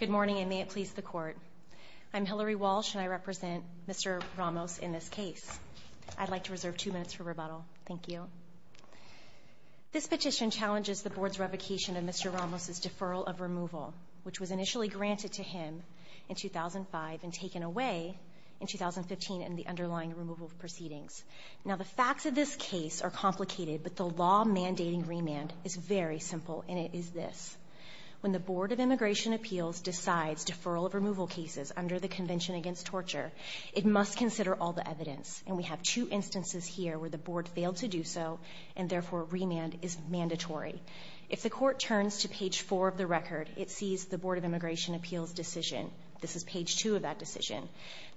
Good morning, and may it please the Court. I'm Hillary Walsh, and I represent Mr. Ramos in this case. I'd like to reserve two minutes for rebuttal. Thank you. This petition challenges the Board's revocation of Mr. Ramos' deferral of removal, which was initially granted to him in 2005 and taken away in 2015 in the underlying removal proceedings. Now, the facts of this case are complicated, but the law mandating remand is very simple, and it is this. When the Board of Immigration Appeals decides deferral of removal cases under the Convention Against Torture, it must consider all the evidence. And we have two instances here where the Board failed to do so, and therefore, remand is mandatory. If the Court turns to page 4 of the record, it sees the Board of Immigration Appeals decision. This is page 2 of that decision.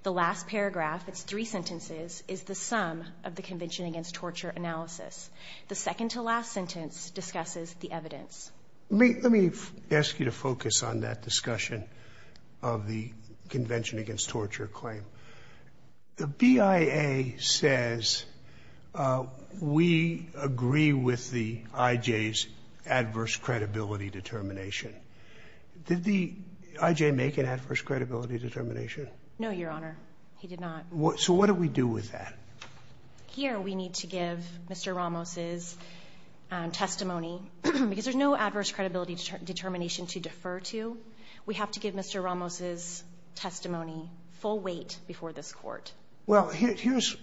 The last paragraph, it's three sentences, is the sum of the Convention Against Torture analysis. The second to last sentence discusses the evidence. Let me ask you to focus on that discussion of the Convention Against Torture claim. The BIA says we agree with the I.J.'s adverse credibility determination. Did the I.J. make an adverse credibility determination? No, Your Honor. He did not. So what do we do with that? Here, we need to give Mr. Ramos' testimony, because there's no adverse credibility determination to defer to. We have to give Mr. Ramos' testimony full weight before this Court. Well, here's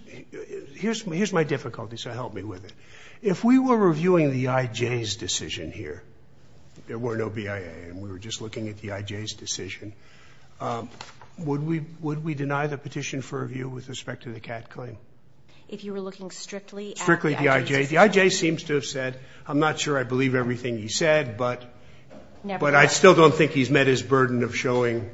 my difficulty, so help me with it. If we were reviewing the I.J.'s decision here, there were no BIA, and we were just looking at the I.J.'s decision, would we deny the petition for review with respect to the Catt claim? If you were looking strictly at the I.J.'s decision? Strictly the I.J. The I.J. seems to have said, I'm not sure I believe everything he said, but I still don't think he's met his burden of showing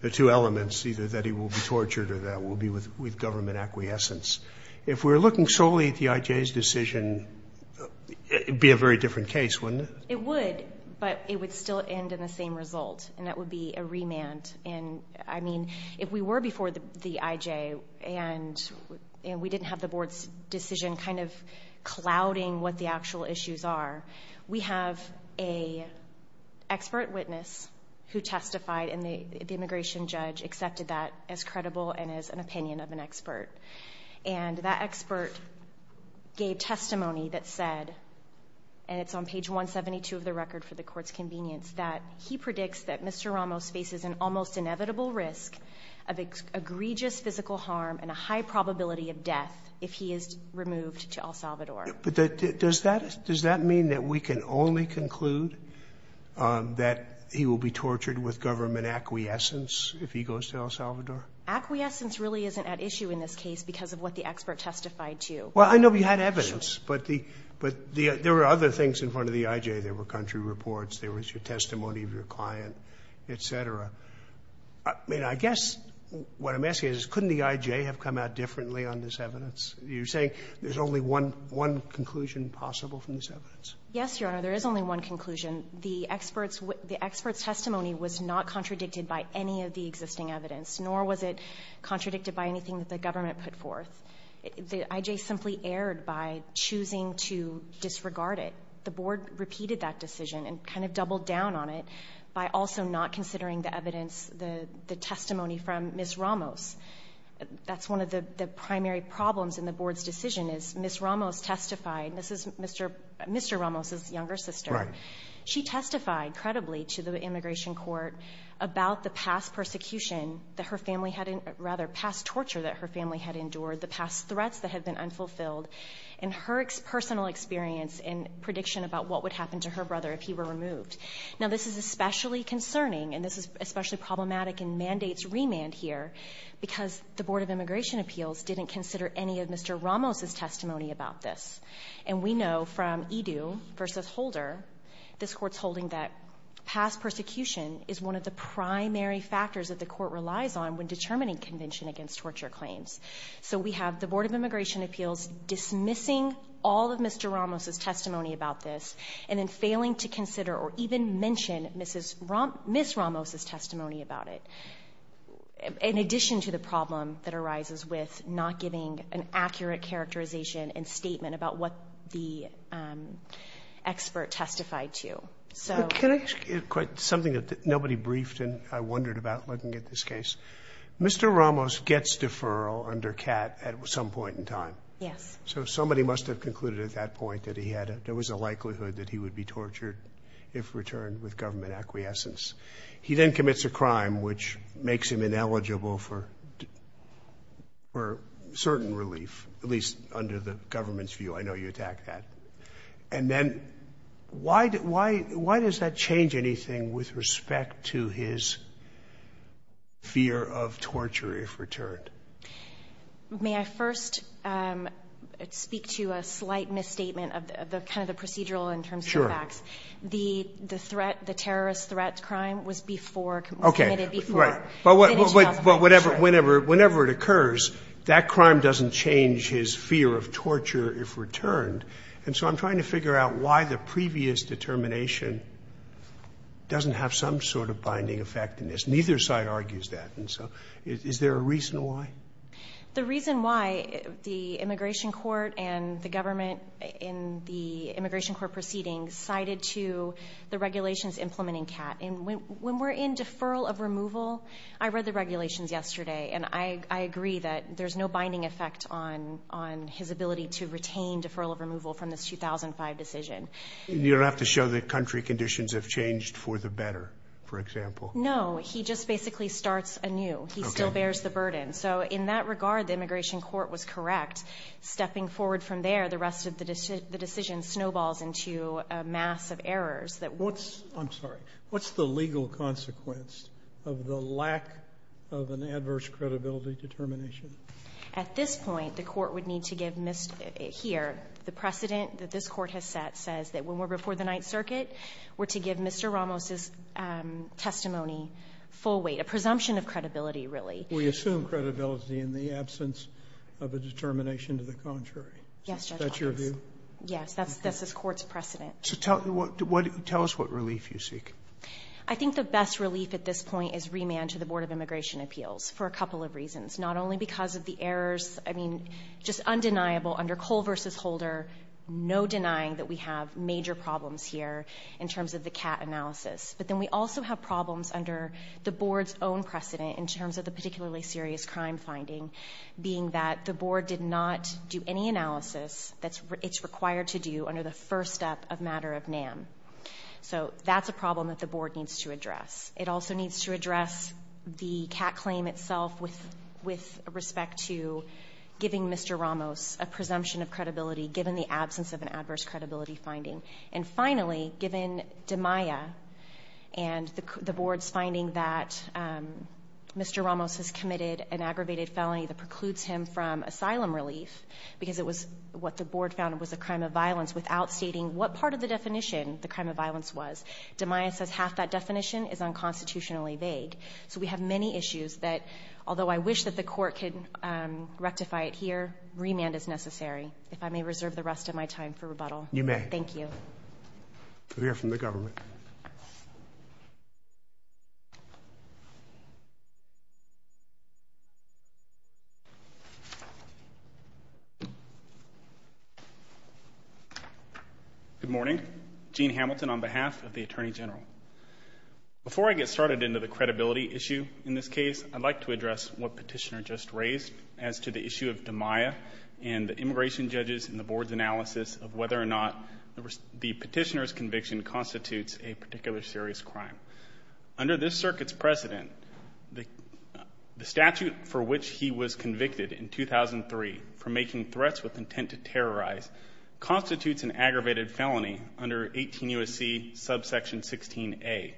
the two elements, either that he will be tortured or that we'll be with government acquiescence. If we were looking solely at the I.J.'s decision, it would be a very different case, wouldn't it? It would, but it would still end in the same result, and that would be a remand. If we were before the I.J., and we didn't have the Board's decision kind of clouding what the actual issues are, we have an expert witness who testified, and the immigration judge accepted that as credible and as an opinion of an expert. And that expert gave testimony that said, and it's on page 172 of the record for the Court's convenience, that he predicts that Mr. Ramos faces an almost inevitable risk of egregious physical harm and a high probability of death if he is removed to El Salvador. But does that mean that we can only conclude that he will be tortured with government acquiescence if he goes to El Salvador? Acquiescence really isn't at issue in this case because of what the expert testified to. Well, I know we had evidence, but the other things in front of the I.J. There were country reports. There was your testimony of your client, et cetera. I mean, I guess what I'm asking is, couldn't the I.J. have come out differently on this evidence? You're saying there's only one conclusion possible from this evidence? Yes, Your Honor. There is only one conclusion. The expert's testimony was not contradicted by any of the existing evidence, nor was it contradicted by anything that the government put forth. The I.J. simply erred by choosing to disregard it. The Board repeated that decision and kind of doubled down on it by also not considering the evidence, the testimony from Ms. Ramos. That's one of the primary problems in the Board's decision is Ms. Ramos testified Mr. Ramos's younger sister. Right. She testified credibly to the immigration court about the past persecution, that her family had, rather, past torture that her family had endured, the past threats that had been unfulfilled, and her personal experience and prediction about what would happen to her brother if he were removed. Now, this is especially concerning, and this is especially problematic in mandates remand here, because the Board of Immigration Appeals didn't consider any of Mr. Ramos's testimony about this. And we know from Edu v. Holder, this Court's holding that past persecution is one of the primary factors that the Court relies on when determining convention against torture claims. So we have the Board of Immigration Appeals dismissing all of Mr. Ramos's testimony about this, and then failing to consider or even mention Ms. Ramos's testimony about it, in addition to the problem that arises with not giving an accurate characterization and statement about what the expert testified to. So can I ask you something that nobody briefed, and I wondered about looking at this case? Mr. Ramos gets deferral under CAT at some point in time. Yes. So somebody must have concluded at that point that he had, there was a likelihood that he would be tortured if returned with government acquiescence. He then commits a crime which makes him ineligible for certain relief, at least under the government's view. I know you attacked that. And then why does that change anything with respect to his fear of torture if returned? May I first speak to a slight misstatement of the kind of the procedural in terms of the facts? Sure. The threat, the terrorist threat crime was before, committed before. Okay. Right. But whenever it occurs, that crime doesn't change his fear of torture if returned. And so I'm trying to figure out why the previous determination doesn't have some sort of binding effect in this. Neither side argues that. And so is there a reason why? The reason why the immigration court and the government in the immigration court proceedings cited to the regulations implementing CAT. And when we're in deferral of removal, I read the regulations yesterday, and I agree that there's no binding effect on his ability to retain deferral of removal from this 2005 decision. You don't have to show that country conditions have changed for the better, for example? No. He just basically starts anew. He still bears the burden. So in that regard, the immigration court was correct. Stepping forward from there, the rest of the decision snowballs into a mass of errors that won't... I'm sorry. What's the legal consequence of the lack of an adverse credibility determination? At this point, the Court would need to give Mr. here, the precedent that this Court has set, says that when we're before the Ninth Circuit, we're to give Mr. Ramos's testimony full weight, a presumption of credibility, really. We assume credibility in the absence of a determination to the contrary. Yes, Judge Roberts. Yes. That's the Court's precedent. So tell us what relief you seek. I think the best relief at this point is remand to the Board of Immigration Appeals for a couple of reasons. Not only because of the errors, I mean, just undeniable under Cole v. Holder, no denying that we have major problems here in terms of the CAT analysis. But then we also have problems under the Board's own precedent in terms of the particularly serious crime finding, being that the Board did not do any analysis that it's required to do under the first step of matter of NAM. So that's a problem that the Board needs to address. It also needs to address the CAT claim itself with respect to giving Mr. Ramos a presumption of credibility given the absence of an adverse credibility finding. And finally, given DeMaia and the Board's finding that Mr. Ramos has committed an aggravated felony that precludes him from asylum relief because it was what the Board found was a crime of violence without stating what part of the definition the crime of violence was. DeMaia says half that definition is unconstitutionally vague. So we have many issues that, although I wish that the court could rectify it here, remand is necessary. If I may reserve the rest of my time for rebuttal. You may. Thank you. Clear from the government. Good morning. Gene Hamilton on behalf of the Attorney General. Before I get started into the credibility issue in this case, I'd like to address what Petitioner just raised as to the issue of DeMaia and the immigration judges and the Board's analysis of whether or not the Petitioner's conviction constitutes a particular serious crime. Under this circuit's precedent, the statute for which he was convicted in 2003 for making threats with intent to terrorize constitutes an aggravated felony under 18 U.S.C. subsection 16A.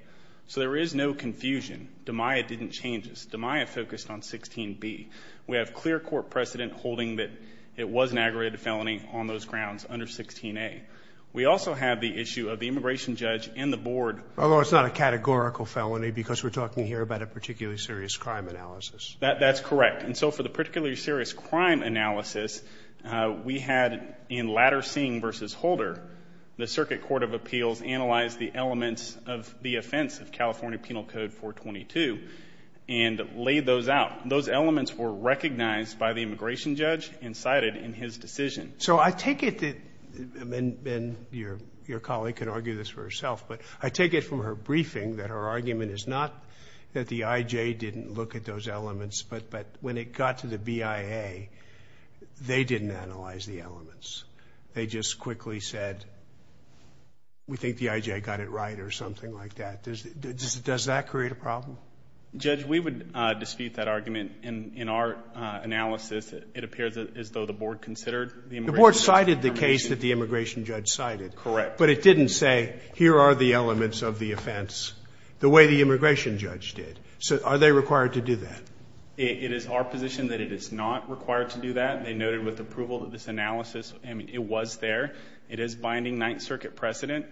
So there is no confusion. DeMaia didn't change this. DeMaia focused on 16B. We have clear court precedent holding that it was an aggravated felony on those grounds under 16A. We also have the issue of the immigration judge and the Board. Although it's not a categorical felony, because we're talking here about a particularly serious crime analysis. That's correct. And so for the particularly serious crime analysis, we had in Latter Singh versus Holder, the Circuit Court of Appeals analyzed the elements of the offense of California Penal Code 422 and laid those out. Those elements were recognized by the immigration judge and cited in his decision. So I take it that, and your colleague can argue this for herself, but I take it from her briefing that her argument is not that the IJ didn't look at those elements, but when it got to the BIA, they didn't analyze the elements. They just quickly said, we think the IJ got it right or something like that. Does that create a problem? Judge, we would dispute that argument. In our analysis, it appears as though the Board considered the immigration judge's information. The Board cited the case that the immigration judge cited. Correct. But it didn't say, here are the elements of the offense the way the immigration judge did. So are they required to do that? It is our position that it is not required to do that. They noted with approval that this analysis, I mean, it was there. It is binding Ninth Circuit precedent.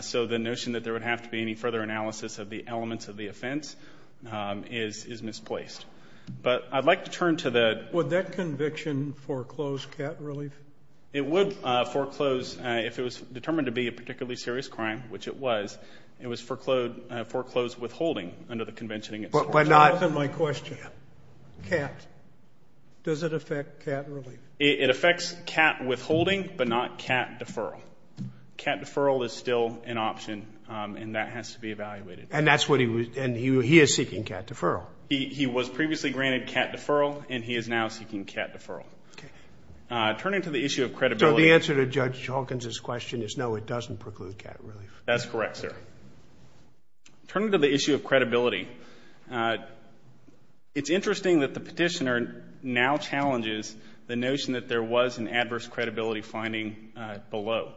So the notion that there would have to be any further analysis of the elements of the offense is misplaced. But I'd like to turn to the ---- Would that conviction foreclose cat relief? It would foreclose if it was determined to be a particularly serious crime, which it was. It was foreclosed withholding under the conventioning at Storch. But not ---- Answer my question. Cat. Does it affect cat relief? It affects cat withholding, but not cat deferral. Cat deferral is still an option, and that has to be evaluated. And that's what he was ---- and he is seeking cat deferral. He was previously granted cat deferral, and he is now seeking cat deferral. Turning to the issue of credibility ---- So the answer to Judge Hawkins's question is, no, it doesn't preclude cat relief. That's correct, sir. Turning to the issue of credibility, it's interesting that the Petitioner now challenges the notion that there was an adverse credibility finding below.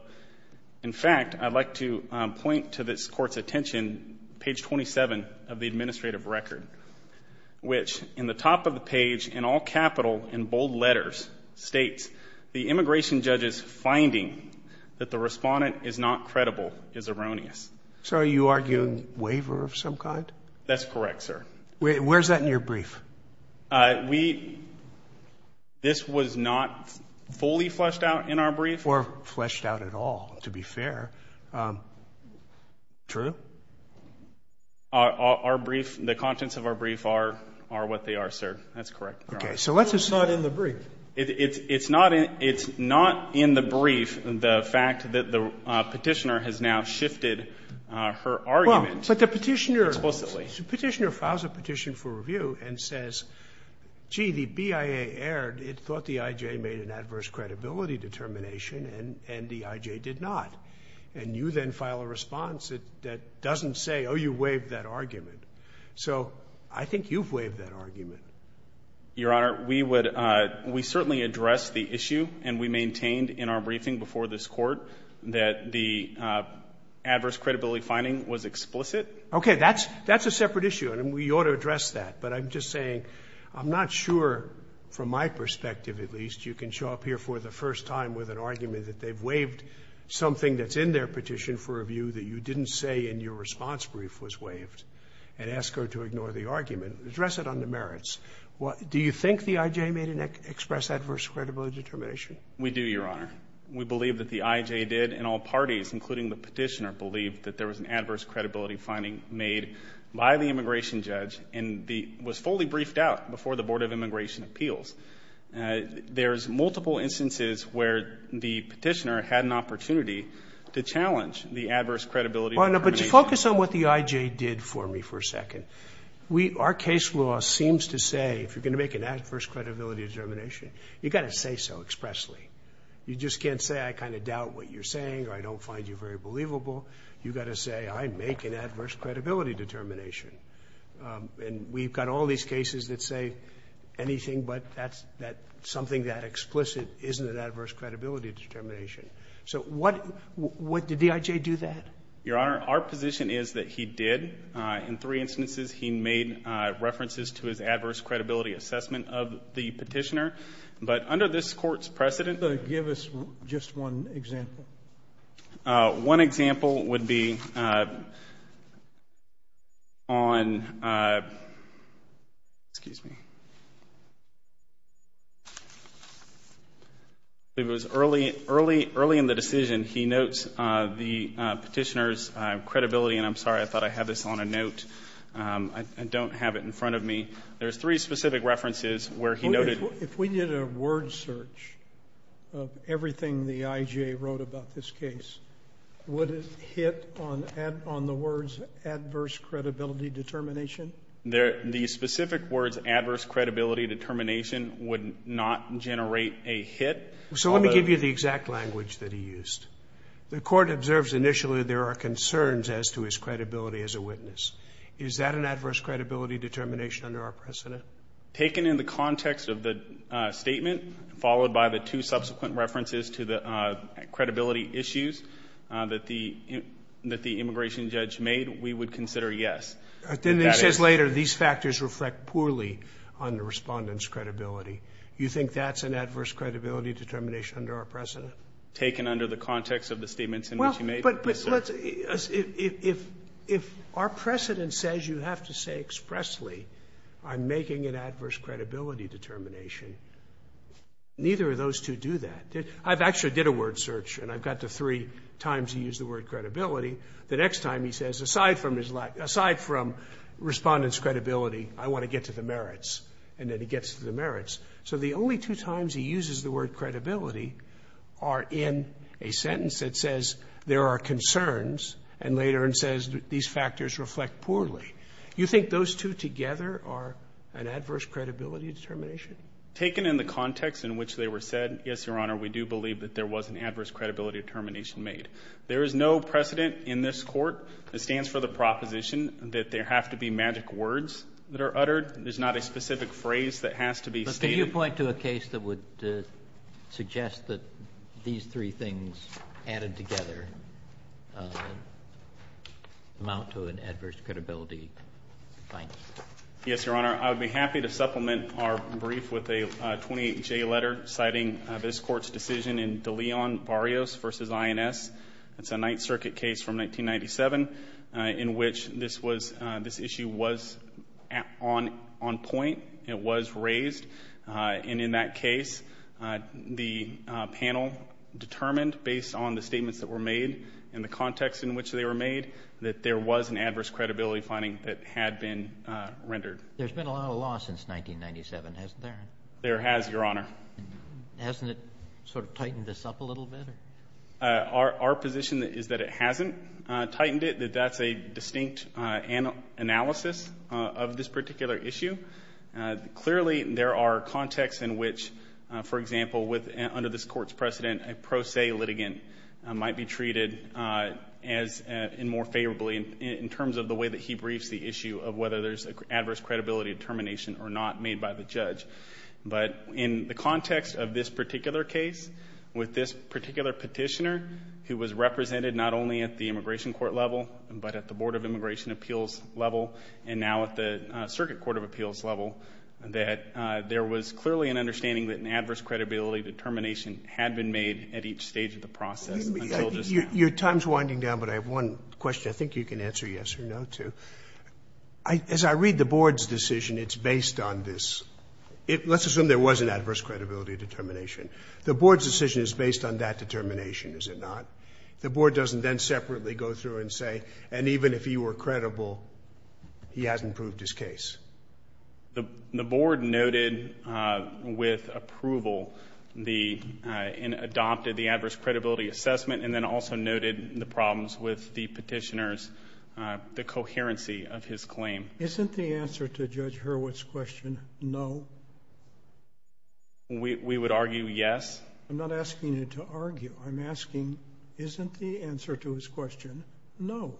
In fact, I'd like to point to this Court's attention, page 27 of the administrative record, which in the top of the page, in all capital, in bold letters, states, the immigration judge's finding that the respondent is not credible is erroneous. So are you arguing waiver of some kind? That's correct, sir. Where's that in your brief? This was not fully fleshed out in our brief. Or fleshed out at all, to be fair. True? Our brief, the contents of our brief are what they are, sir. That's correct. Okay. So let's assume ---- It's not in the brief. It's not in the brief, the fact that the Petitioner has now shifted her argument explicitly. Well, but the Petitioner files a petition for review and says, gee, the BIA erred. It thought the IJ made an adverse credibility determination, and the IJ did not. And you then file a response that doesn't say, oh, you waived that argument. So I think you've waived that argument. Your Honor, we would, we certainly address the issue, and we maintained in our briefing before this Court that the adverse credibility finding was explicit. Okay, that's a separate issue, and we ought to address that. But I'm just saying, I'm not sure, from my perspective at least, you can show up here for the first time with an argument that they've waived something that's in their petition for review that you didn't say in your response brief was waived, and ask her to ignore the argument. Address it on the merits. Do you think the IJ made an express adverse credibility determination? We do, Your Honor. We believe that the IJ did, and all parties, including the Petitioner, believed that there was an adverse credibility finding made by the immigration judge, and was fully briefed out before the Board of Immigration Appeals. There's multiple instances where the Petitioner had an opportunity to challenge the adverse credibility determination. Well, no, but just focus on what the IJ did for me for a second. Our case law seems to say, if you're going to make an adverse credibility determination, you've got to say so expressly. You just can't say, I kind of doubt what you're saying, or I don't find you very believable. You've got to say, I make an adverse credibility determination. And we've got all these cases that say anything but that's something that explicit isn't an adverse credibility determination. So what did the IJ do that? Your Honor, our position is that he did. In three instances, he made references to his adverse credibility assessment of the Petitioner. But under this court's precedent. But give us just one example. One example would be on, excuse me. It was early in the decision, he notes the Petitioner's credibility. And I'm sorry, I thought I had this on a note. I don't have it in front of me. There's three specific references where he noted. If we did a word search of everything the IJ wrote about this case, would it hit on the words adverse credibility determination? The specific words adverse credibility determination would not generate a hit. So let me give you the exact language that he used. The court observes initially there are concerns as to his credibility as a witness. Is that an adverse credibility determination under our precedent? Taken in the context of the statement, followed by the two subsequent references to the credibility issues that the immigration judge made, we would consider yes. Then he says later, these factors reflect poorly on the respondent's credibility. You think that's an adverse credibility determination under our precedent? Taken under the context of the statements in which he made. But let's, if our precedent says you have to say expressly, I'm making an adverse credibility determination, neither of those two do that. I've actually did a word search, and I've got the three times he used the word credibility. The next time he says, aside from his, aside from respondent's credibility, I want to get to the merits, and then he gets to the merits. So the only two times he uses the word credibility are in a sentence that says, there are concerns, and later it says, these factors reflect poorly. You think those two together are an adverse credibility determination? Taken in the context in which they were said, yes, your honor, we do believe that there was an adverse credibility determination made. There is no precedent in this court that stands for the proposition that there have to be magic words that are uttered. There's not a specific phrase that has to be stated. But can you point to a case that would suggest that these three things added together amount to an adverse credibility finding? Yes, your honor, I would be happy to supplement our brief with a 28J letter citing this court's decision in De Leon Barrios versus INS. It's a Ninth Circuit case from 1997, in which this issue was on point. It was raised, and in that case, the panel determined, based on the statements that were made and the context in which they were made, that there was an adverse credibility finding that had been rendered. There's been a lot of law since 1997, hasn't there? There has, your honor. Hasn't it sort of tightened this up a little bit? Our position is that it hasn't tightened it, that that's a distinct analysis of this particular issue. Clearly, there are contexts in which, for example, under this court's precedent, a pro se litigant might be treated as, and more favorably, in terms of the way that he briefs the issue of whether there's an adverse credibility determination or not made by the judge. But in the context of this particular case, with this particular petitioner, who was represented not only at the immigration court level, but at the Board of Immigration Appeals level, and now at the Circuit Court of Appeals level, that there was clearly an understanding that an adverse credibility determination had been made at each stage of the process until just now. Your time's winding down, but I have one question. I think you can answer yes or no, too. As I read the board's decision, it's based on this. Let's assume there was an adverse credibility determination. The board's decision is based on that determination, is it not? The board doesn't then separately go through and say, and even if he were credible, he hasn't proved his case. The board noted with approval and adopted the adverse credibility assessment, and then also noted the problems with the petitioner's, the coherency of his claim. Isn't the answer to Judge Hurwitz's question, no? We would argue yes. I'm not asking you to argue. I'm asking, isn't the answer to his question, no?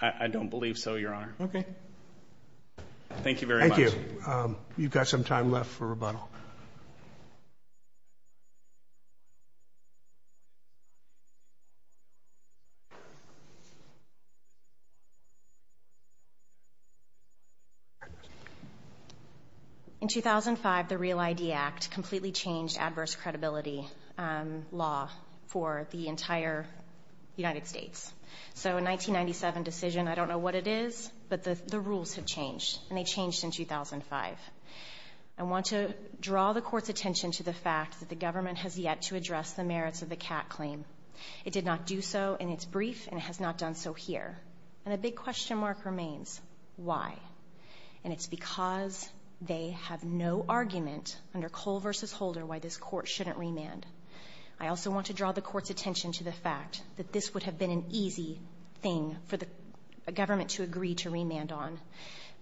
I don't believe so, Your Honor. Okay. Thank you very much. Thank you. You've got some time left for rebuttal. In 2005, the Real ID Act completely changed adverse credibility law for the entire United States, so a 1997 decision, I don't know what it is, but the rules have changed, and they changed in 2005. I want to draw the court's attention to the fact that the government has yet to address the merits of the Catt claim. It did not do so in its brief, and it has not done so in its written form. And so here, and a big question mark remains, why? And it's because they have no argument under Cole versus Holder, why this court shouldn't remand. I also want to draw the court's attention to the fact that this would have been an easy thing for the government to agree to remand on.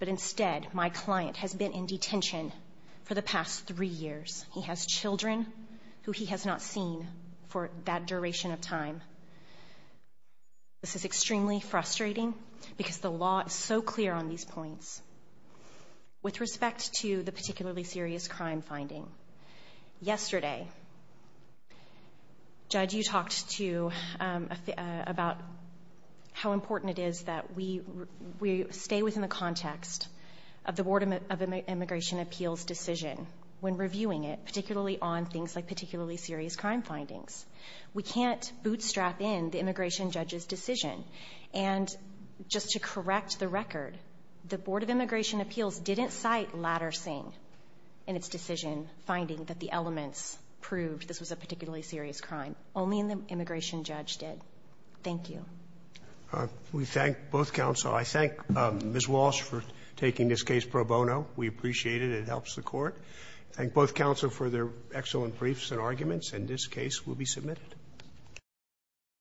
But instead, my client has been in detention for the past three years. He has children who he has not seen for that duration of time. This is extremely frustrating because the law is so clear on these points. With respect to the particularly serious crime finding, yesterday, Judge, you talked about how important it is that we stay within the context of the Board of Immigration Appeals decision when reviewing it, particularly on things like particularly serious crime findings. We can't bootstrap in the immigration judge's decision. And just to correct the record, the Board of Immigration Appeals didn't cite Latter Sing in its decision finding that the elements proved this was a particularly serious crime. Only the immigration judge did. Thank you. Roberts. We thank both counsel. I thank Ms. Walsh for taking this case pro bono. We appreciate it. It helps the Court. I thank both counsel for their excellent briefs and arguments. And this case will be submitted.